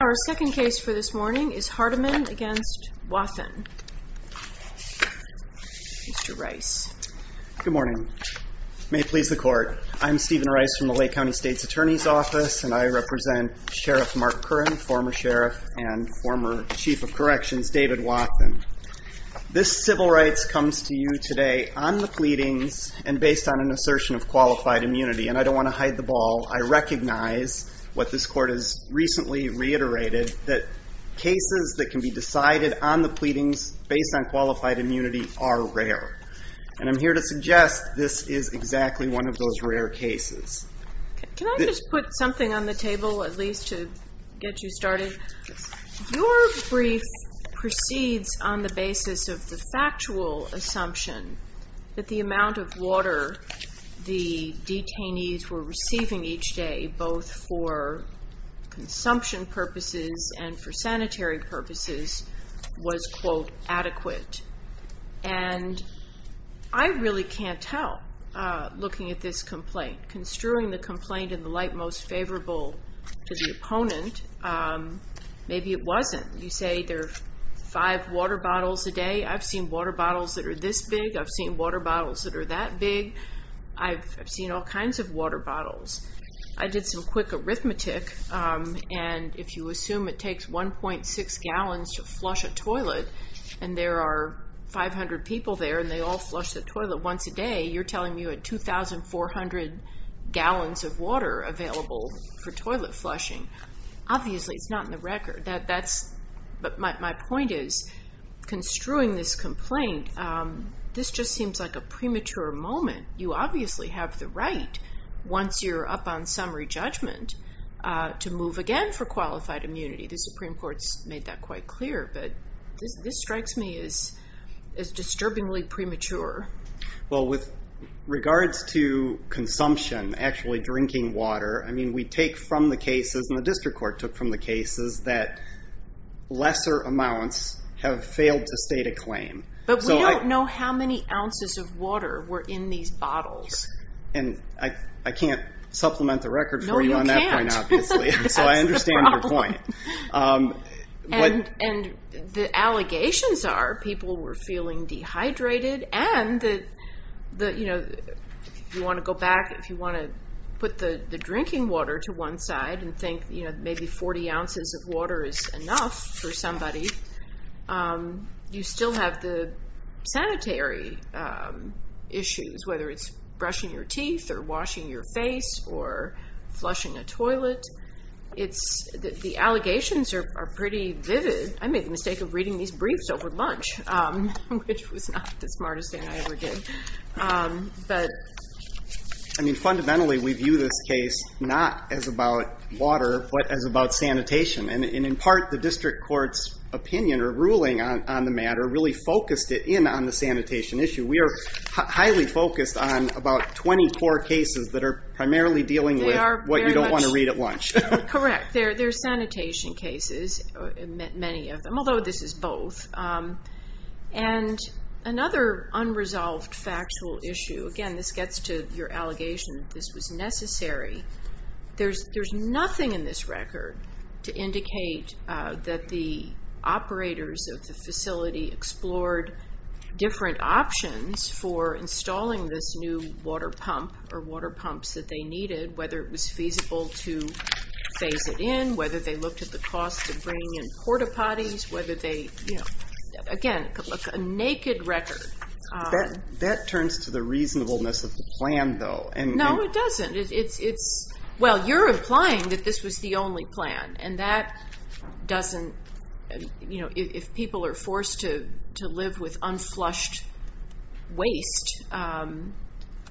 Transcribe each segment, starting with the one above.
Our second case for this morning is Hardeman v. Wathen. Good morning. May it please the court. I'm Stephen Rice from the Lake County State's Attorney's Office, and I represent Sheriff Mark Curran, former sheriff and former Chief of Corrections David Wathen. This civil rights comes to you today on the pleadings and based on an assertion of qualified immunity, and I don't want to hide the ball. I recognize what this court has recently reiterated, that cases that can be decided on the pleadings based on qualified immunity are rare. And I'm here to suggest this is exactly one of those rare cases. Can I just put something on the table at least to get you started? Your brief proceeds on the basis of the factual assumption that the amount of water the detainees were receiving each day, both for consumption purposes and for sanitary purposes, was, quote, adequate. And I really can't tell, looking at this complaint. Construing the complaint in the light most favorable to the opponent, maybe it wasn't. You say there are five water bottles a day. I've seen water bottles that are this big. I've seen water bottles that are that big. I've seen all kinds of water bottles. I did some quick arithmetic, and if you assume it takes 1.6 gallons to flush a toilet, and there are 500 people there and they all flush the toilet once a day, you're telling me you had 2,400 gallons of water available for toilet flushing. Obviously, it's not in the record. But my point is, construing this complaint, this just seems like a premature moment. You obviously have the right, once you're up on summary judgment, to move again for qualified immunity. The Supreme Court's made that quite clear, but this strikes me as disturbingly premature. Well, with regards to consumption, actually drinking water, I mean, we take from the cases, and the district court took from the cases, that lesser amounts have failed to state a claim. But we don't know how many ounces of water were in these bottles. And I can't supplement the record for you on that point, obviously. No, you can't. That's the problem. And the allegations are people were feeling dehydrated, and if you want to go back, if you want to put the drinking water to one side and think maybe 40 ounces of water is enough for somebody, you still have the sanitary issues, whether it's brushing your teeth or washing your face or flushing a toilet. The allegations are pretty vivid. I made the mistake of reading these briefs over lunch, which was not the smartest thing I ever did. Fundamentally, we view this case not as about water, but as about sanitation. And in part, the district court's opinion or ruling on the matter really focused it in on the sanitation issue. We are highly focused on about 24 cases that are primarily dealing with what you don't want to read at lunch. Correct. There are sanitation cases, many of them, although this is both. And another unresolved factual issue, again, this gets to your allegation that this was necessary. There's nothing in this record to indicate that the operators of the facility explored different options for installing this new water pump or water pumps that they needed, whether it was feasible to phase it in, whether they looked at the cost of bringing in porta-potties, whether they, again, a naked record. That turns to the reasonableness of the plan, though. No, it doesn't. It's, well, you're implying that this was the only plan, and that doesn't, you know, if people are forced to live with unflushed waste,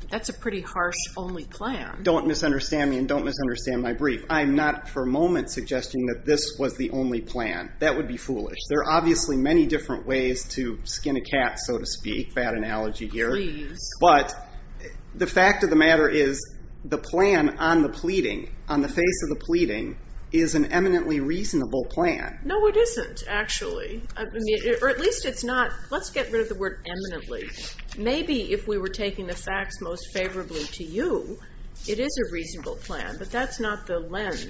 that's a pretty harsh only plan. Don't misunderstand me and don't misunderstand my brief. I'm not for a moment suggesting that this was the only plan. That would be foolish. There are obviously many different ways to skin a cat, so to speak, bad analogy here. Please. But the fact of the matter is the plan on the pleading, on the face of the pleading, is an eminently reasonable plan. No, it isn't, actually. Or at least it's not. Let's get rid of the word eminently. Maybe if we were taking the facts most favorably to you, it is a reasonable plan, but that's not the lens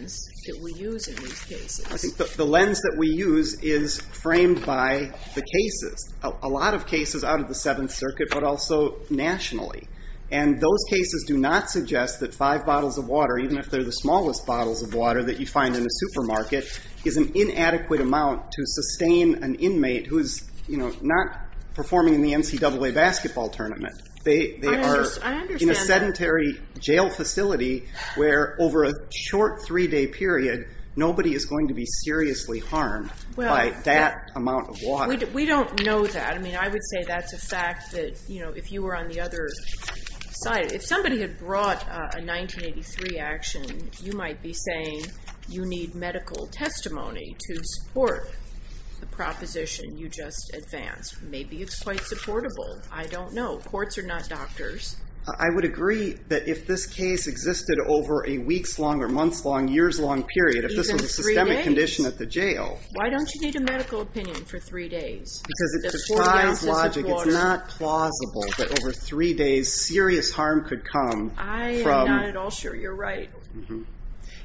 that we use in these cases. I think the lens that we use is framed by the cases, a lot of cases out of the Seventh Circuit, but also nationally. And those cases do not suggest that five bottles of water, even if they're the smallest bottles of water that you find in a supermarket, is an inadequate amount to sustain an inmate who is, you know, not performing in the NCAA basketball tournament. They are in a sedentary jail facility where, over a short three-day period, nobody is going to be seriously harmed by that amount of water. We don't know that. I mean, I would say that's a fact that, you know, if you were on the other side, if somebody had brought a 1983 action, you might be saying you need medical testimony to support the proposition you just advanced. Maybe it's quite supportable. I don't know. Courts are not doctors. I would agree that if this case existed over a weeks-long or months-long, years-long period, if this was a systemic condition at the jail... Even three days? Why don't you need a medical opinion for three days? Because it's surprise logic. It's not plausible that over three days serious harm could come from... I am not at all sure you're right.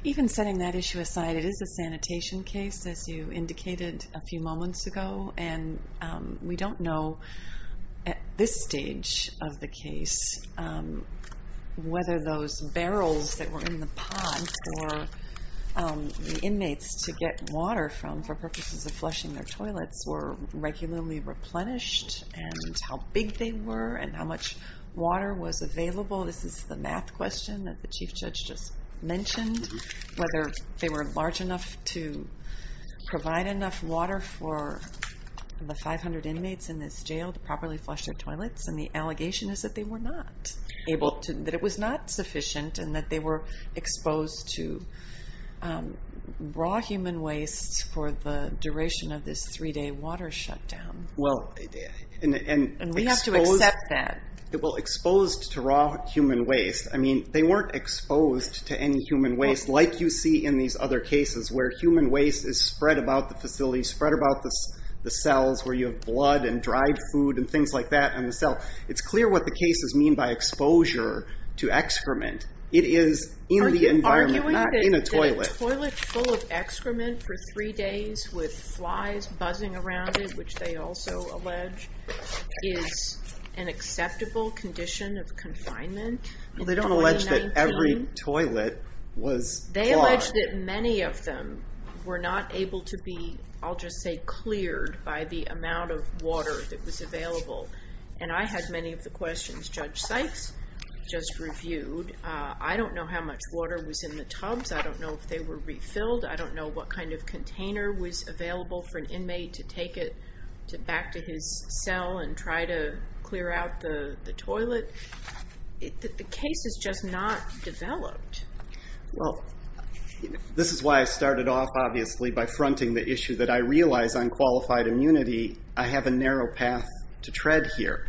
Even setting that issue aside, it is a sanitation case, as you indicated a few moments ago. And we don't know, at this stage of the case, whether those barrels that were in the pond for the inmates to get water from for purposes of flushing their toilets were regularly replenished, and how big they were, and how much water was available. This is the math question that the Chief Judge just mentioned, whether they were large enough to provide enough water for the 500 inmates in this jail to properly flush their toilets. And the allegation is that they were not able to, that it was not sufficient, and that they were exposed to raw human waste for the duration of this three-day water shutdown. And we have to accept that. Exposed to raw human waste. I mean, they weren't exposed to any human waste like you see in these other cases where human waste is spread about the facility, spread about the cells where you have blood and dried food and things like that in the cell. It's clear what the cases mean by exposure to excrement. It is in the environment, not in a toilet. A toilet full of excrement for three days with flies buzzing around it, which they also allege, is an acceptable condition of confinement. They don't allege that every toilet was clogged. They allege that many of them were not able to be, I'll just say, cleared by the amount of water that was available. And I had many of the questions Judge Sykes just reviewed. I don't know how much water was in the tubs. I don't know if they were refilled. I don't know what kind of container was available for an inmate to take it back to his cell and try to clear out the toilet. The case is just not developed. Well, this is why I started off, obviously, by fronting the issue that I realize on qualified immunity, I have a narrow path to tread here.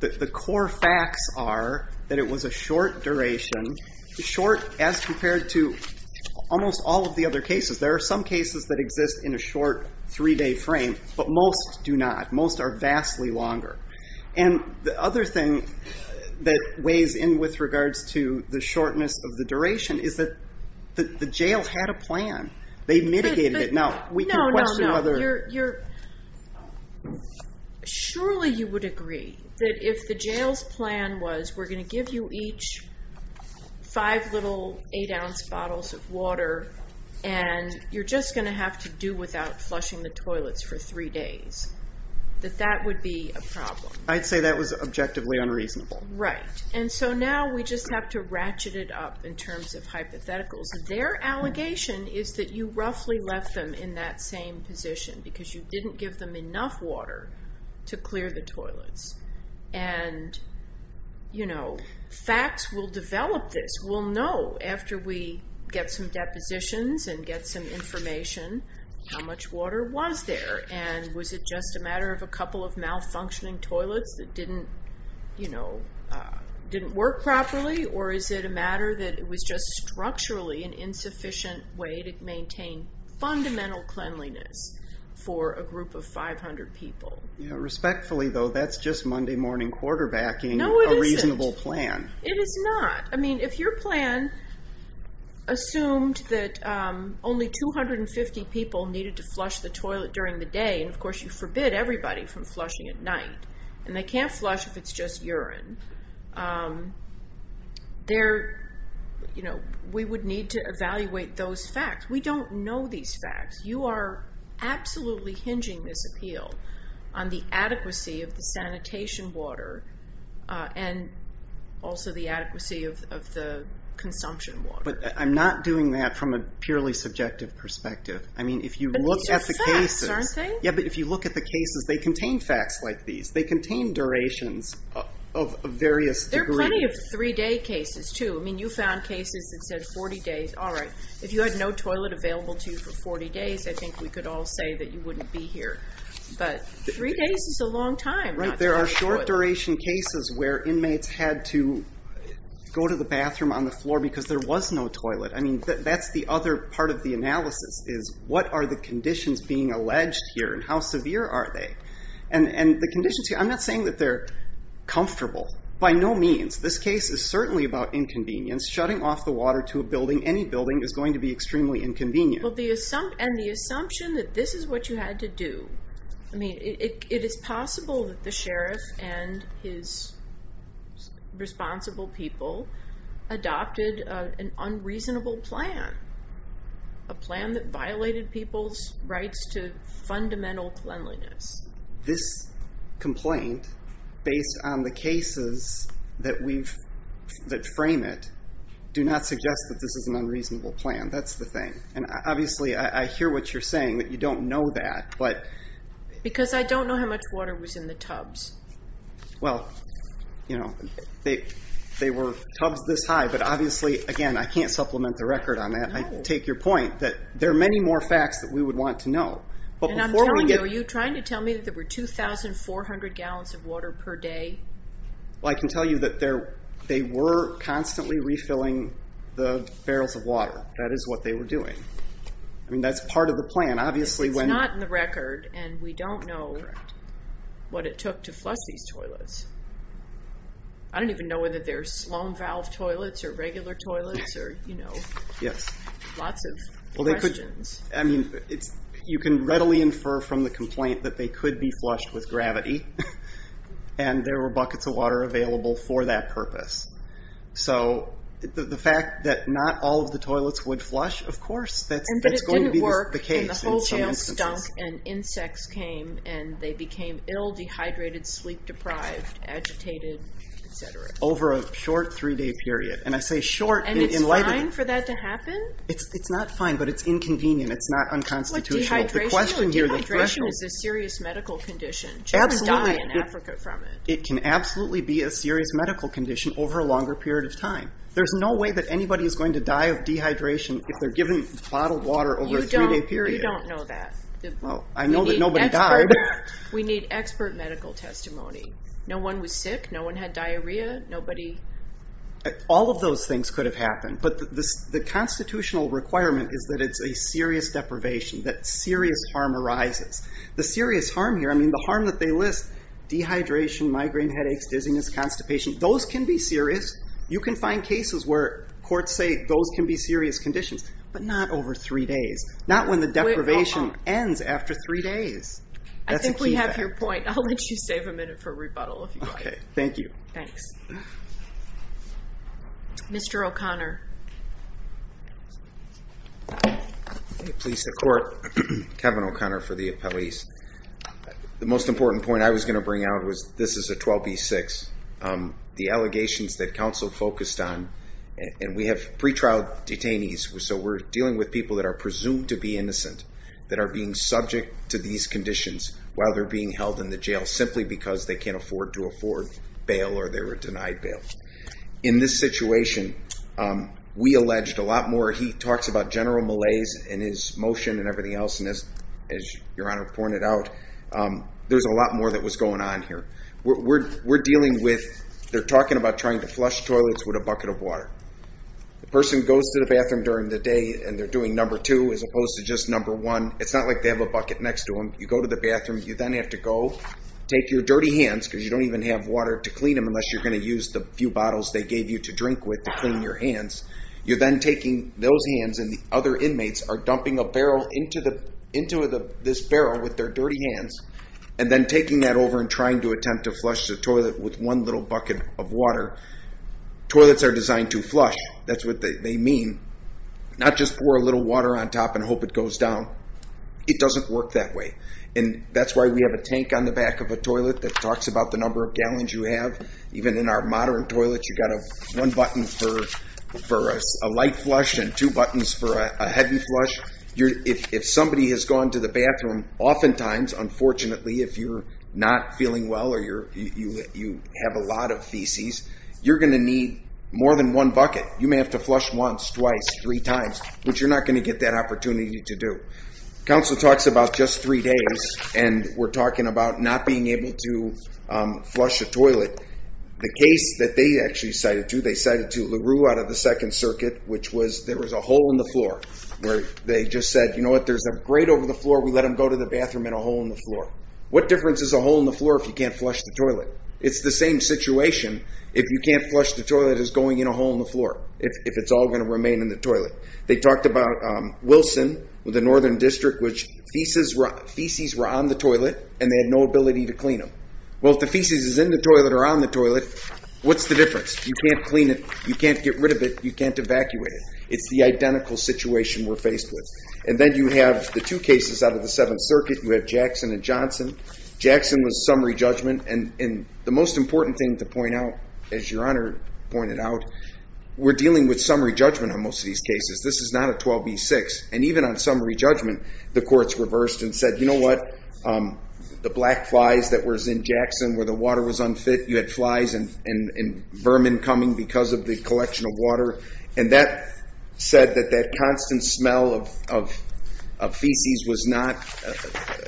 The core facts are that it was a short duration, short as compared to almost all of the other cases. There are some cases that exist in a short three-day frame, but most do not. Most are vastly longer. And the other thing that weighs in with regards to the shortness of the duration is that the jail had a plan. They mitigated it. Now, we can question others. Surely you would agree that if the jail's plan was, we're going to give you each five little eight-ounce bottles of water, and you're just going to have to do without flushing the toilets for three days, that that would be a problem. I'd say that was objectively unreasonable. Right. And so now we just have to ratchet it up in terms of hypotheticals. Their allegation is that you roughly left them in that same position because you didn't give them enough water to clear the toilets. And facts will develop this. We'll know after we get some depositions and get some information how much water was there. And was it just a matter of a couple of malfunctioning toilets that didn't work properly? Or is it a matter that it was just structurally an insufficient way to maintain fundamental cleanliness for a group of 500 people? Respectfully, though, that's just Monday morning quarterbacking a reasonable plan. No, it isn't. It is not. I mean, if your plan assumed that only 250 people needed to flush the toilet during the day, and, of course, you forbid everybody from flushing at night, and they can't flush if it's just urine, we would need to evaluate those facts. We don't know these facts. You are absolutely hinging this appeal on the adequacy of the sanitation water and also the adequacy of the consumption water. But I'm not doing that from a purely subjective perspective. I mean, if you look at the cases. But these are facts, aren't they? Yeah, but if you look at the cases, they contain facts like these. They contain durations of various degrees. There are plenty of three-day cases, too. I mean, you found cases that said 40 days. All right, if you had no toilet available to you for 40 days, I think we could all say that you wouldn't be here. But three days is a long time. Right. There are short-duration cases where inmates had to go to the bathroom on the floor because there was no toilet. I mean, that's the other part of the analysis is what are the conditions being alleged here, and how severe are they? And the conditions here, I'm not saying that they're comfortable. By no means. This case is certainly about inconvenience. Shutting off the water to a building, any building, is going to be extremely inconvenient. And the assumption that this is what you had to do. I mean, it is possible that the sheriff and his responsible people adopted an unreasonable plan, a plan that violated people's rights to fundamental cleanliness. This complaint, based on the cases that frame it, do not suggest that this is an unreasonable plan. That's the thing. And obviously, I hear what you're saying, that you don't know that. Because I don't know how much water was in the tubs. Well, you know, they were tubs this high, but obviously, again, I can't supplement the record on that. I take your point that there are many more facts that we would want to know. And I'm telling you, are you trying to tell me that there were 2,400 gallons of water per day? Well, I can tell you that they were constantly refilling the barrels of water. That is what they were doing. I mean, that's part of the plan. It's not in the record, and we don't know what it took to flush these toilets. I don't even know whether they're Sloan valve toilets or regular toilets or, you know, lots of questions. I mean, you can readily infer from the complaint that they could be flushed with gravity. And there were buckets of water available for that purpose. So the fact that not all of the toilets would flush, of course, that's going to be the case in some instances. But it didn't work, and the whole jail stunk, and insects came, and they became ill, dehydrated, sleep deprived, agitated, etc. Over a short three-day period. And I say short in light of the... And it's fine for that to happen? It's not fine, but it's inconvenient. It's not unconstitutional. What, dehydration? Dehydration is a serious medical condition. Jails die in Africa from it. It can absolutely be a serious medical condition over a longer period of time. There's no way that anybody is going to die of dehydration if they're given bottled water over a three-day period. You don't know that. Well, I know that nobody died. We need expert medical testimony. No one was sick. No one had diarrhea. Nobody... All of those things could have happened. But the constitutional requirement is that it's a serious deprivation, that serious harm arises. The serious harm here, I mean, the harm that they list, dehydration, migraine, headaches, dizziness, constipation, those can be serious. You can find cases where courts say those can be serious conditions, but not over three days. Not when the deprivation ends after three days. I think we have your point. I'll let you save a minute for rebuttal if you'd like. Okay, thank you. Thanks. Mr. O'Connor. Please support Kevin O'Connor for the appellees. The most important point I was going to bring out was this is a 12B6. The allegations that counsel focused on, and we have pretrial detainees, so we're dealing with people that are presumed to be innocent that are being subject to these conditions while they're being held in the jail simply because they can't afford to afford bail or they were denied bail. In this situation, we alleged a lot more. He talks about general malaise in his motion and everything else. And as your Honor pointed out, there's a lot more that was going on here. We're dealing with, they're talking about trying to flush toilets with a bucket of water. The person goes to the bathroom during the day and they're doing number two as opposed to just number one. It's not like they have a bucket next to them. You go to the bathroom. You then have to go take your dirty hands because you don't even have water to clean them unless you're going to use the few bottles they gave you to drink with to clean your hands. You're then taking those hands and the other inmates are dumping a barrel into this barrel with their dirty hands and then taking that over and trying to attempt to flush the toilet with one little bucket of water. Toilets are designed to flush. That's what they mean. Not just pour a little water on top and hope it goes down. It doesn't work that way. And that's why we have a tank on the back of a toilet that talks about the number of gallons you have. Even in our modern toilets, you've got one button for a light flush and two buttons for a heavy flush. If somebody has gone to the bathroom, oftentimes, unfortunately, if you're not feeling well or you have a lot of feces, you're going to need more than one bucket. You may have to flush once, twice, three times, but you're not going to get that opportunity to do. Counsel talks about just three days, and we're talking about not being able to flush a toilet. The case that they actually cited to, they cited to LaRue out of the Second Circuit, which was there was a hole in the floor where they just said, you know what, there's a grate over the floor, we let them go to the bathroom and a hole in the floor. What difference is a hole in the floor if you can't flush the toilet? It's the same situation if you can't flush the toilet as going in a hole in the floor, if it's all going to remain in the toilet. They talked about Wilson with the Northern District, which feces were on the toilet, and they had no ability to clean them. Well, if the feces is in the toilet or on the toilet, what's the difference? You can't clean it, you can't get rid of it, you can't evacuate it. It's the identical situation we're faced with. And then you have the two cases out of the Seventh Circuit. You have Jackson and Johnson. Jackson was summary judgment, and the most important thing to point out, as Your Honor pointed out, we're dealing with summary judgment on most of these cases. This is not a 12B6. And even on summary judgment, the courts reversed and said, you know what, the black flies that was in Jackson where the water was unfit, you had flies and vermin coming because of the collection of water, and that said that that constant smell of feces was not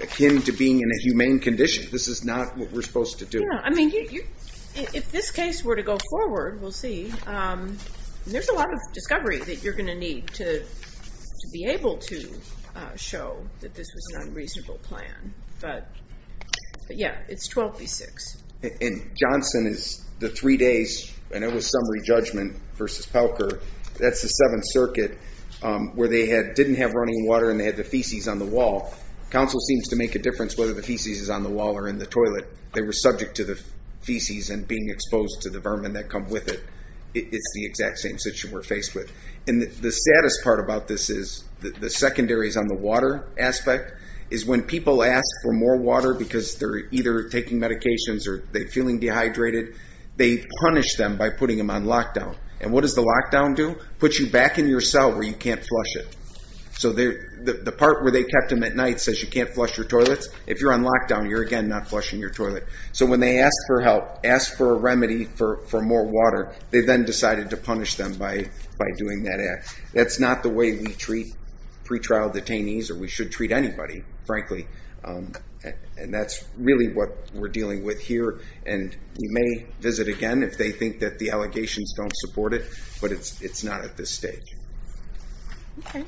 akin to being in a humane condition. This is not what we're supposed to do. I mean, if this case were to go forward, we'll see, there's a lot of discovery that you're going to need to be able to show that this was an unreasonable plan. But, yeah, it's 12B6. And Johnson is the three days, and it was summary judgment versus Pelker. That's the Seventh Circuit where they didn't have running water and they had the feces on the wall. Counsel seems to make a difference whether the feces is on the wall or in the toilet. They were subject to the feces and being exposed to the vermin that come with it. It's the exact same situation we're faced with. And the saddest part about this is the secondaries on the water aspect is when people ask for more water because they're either taking medications or they're feeling dehydrated, they punish them by putting them on lockdown. And what does the lockdown do? It puts you back in your cell where you can't flush it. So the part where they kept them at night says you can't flush your toilets. If you're on lockdown, you're again not flushing your toilet. So when they ask for help, ask for a remedy for more water, they then decided to punish them by doing that act. That's not the way we treat pretrial detainees, or we should treat anybody, frankly. And that's really what we're dealing with here. And we may visit again if they think that the allegations don't support it, but it's not at this stage. Okay.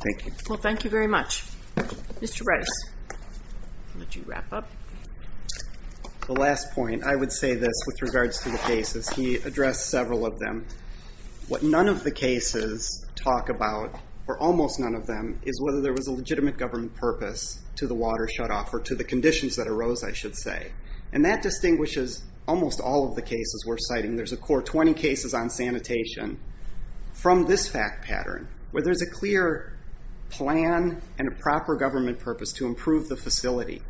Thank you. Well, thank you very much. Mr. Brice, I'll let you wrap up. The last point, I would say this with regards to the cases. He addressed several of them. What none of the cases talk about, or almost none of them, is whether there was a legitimate government purpose to the water shutoff or to the conditions that arose, I should say. And that distinguishes almost all of the cases we're citing. There's a core 20 cases on sanitation from this fact pattern, where there's a clear plan and a proper government purpose to improve the facility.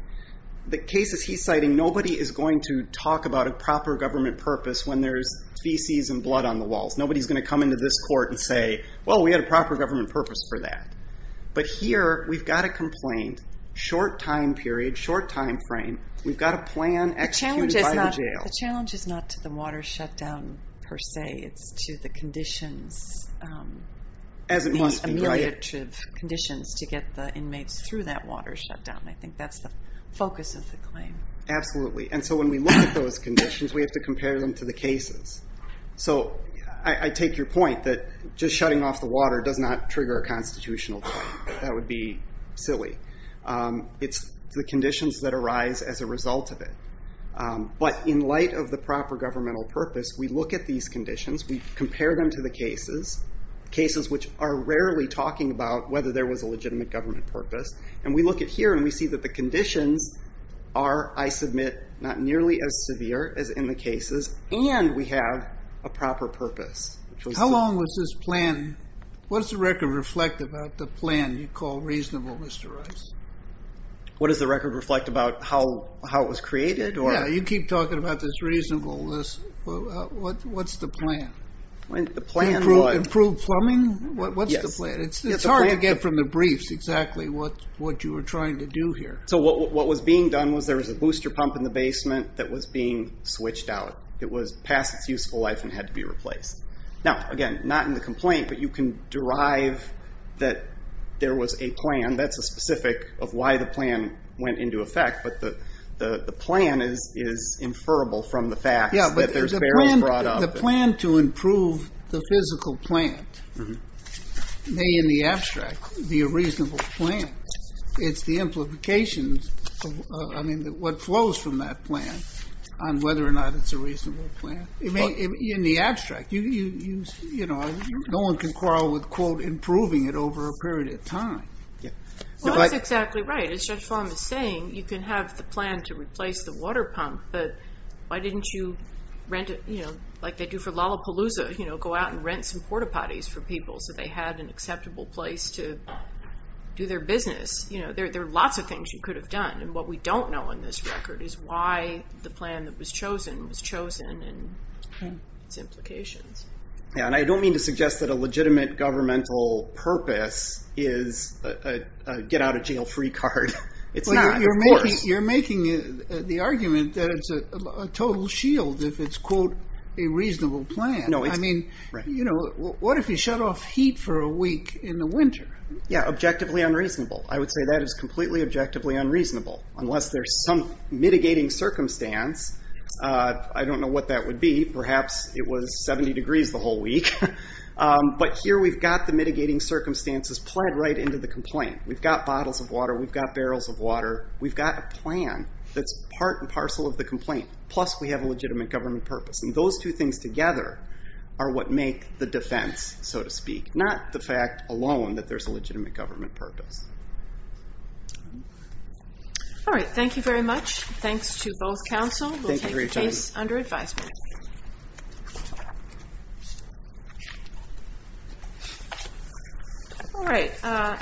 The cases he's citing, nobody is going to talk about a proper government purpose when there's feces and blood on the walls. Nobody is going to come into this court and say, well, we had a proper government purpose for that. But here, we've got a complaint, short time period, short time frame. We've got a plan executed by the jail. The challenge is not to the water shutdown per se. It's to the conditions. As it must be. The conditions to get the inmates through that water shutdown. I think that's the focus of the claim. Absolutely. And so when we look at those conditions, we have to compare them to the cases. I take your point that just shutting off the water does not trigger a constitutional debate. That would be silly. It's the conditions that arise as a result of it. But in light of the proper governmental purpose, we look at these conditions, we compare them to the cases, cases which are rarely talking about whether there was a legitimate government purpose. And we look at here and we see that the conditions are, I submit, not nearly as severe as in the cases. And we have a proper purpose. How long was this plan? What does the record reflect about the plan you call reasonable, Mr. Rice? What does the record reflect about how it was created? Yeah, you keep talking about this reasonable. What's the plan? Improve plumbing? What's the plan? It's hard to get from the briefs exactly what you were trying to do here. So what was being done was there was a booster pump in the basement that was being switched out. It was past its useful life and had to be replaced. Now, again, not in the complaint, but you can derive that there was a plan. That's a specific of why the plan went into effect, but the plan is inferable from the fact that there's barrels brought up. Yeah, but the plan to improve the physical plant may in the abstract be a reasonable plan. It's the implications of what flows from that plan on whether or not it's a reasonable plan. In the abstract, no one can quarrel with, quote, improving it over a period of time. Well, that's exactly right. As Judge Flom is saying, you can have the plan to replace the water pump, but why didn't you rent it like they do for Lollapalooza, go out and rent some porta potties for people so they had an acceptable place to do their business? There are lots of things you could have done, and what we don't know on this record is why the plan that was chosen was chosen and its implications. Yeah, and I don't mean to suggest that a legitimate governmental purpose is a get-out-of-jail-free card. It's not, of course. You're making the argument that it's a total shield if it's, quote, a reasonable plan. I mean, what if you shut off heat for a week in the winter? Yeah, objectively unreasonable. I would say that is completely objectively unreasonable, unless there's some mitigating circumstance. I don't know what that would be. Perhaps it was 70 degrees the whole week. But here we've got the mitigating circumstances plugged right into the complaint. We've got bottles of water. We've got barrels of water. We've got a plan that's part and parcel of the complaint, plus we have a legitimate government purpose. And those two things together are what make the defense, so to speak, not the fact alone that there's a legitimate government purpose. All right. Thank you very much. Thanks to both counsel. We'll take your case under advisement. All right.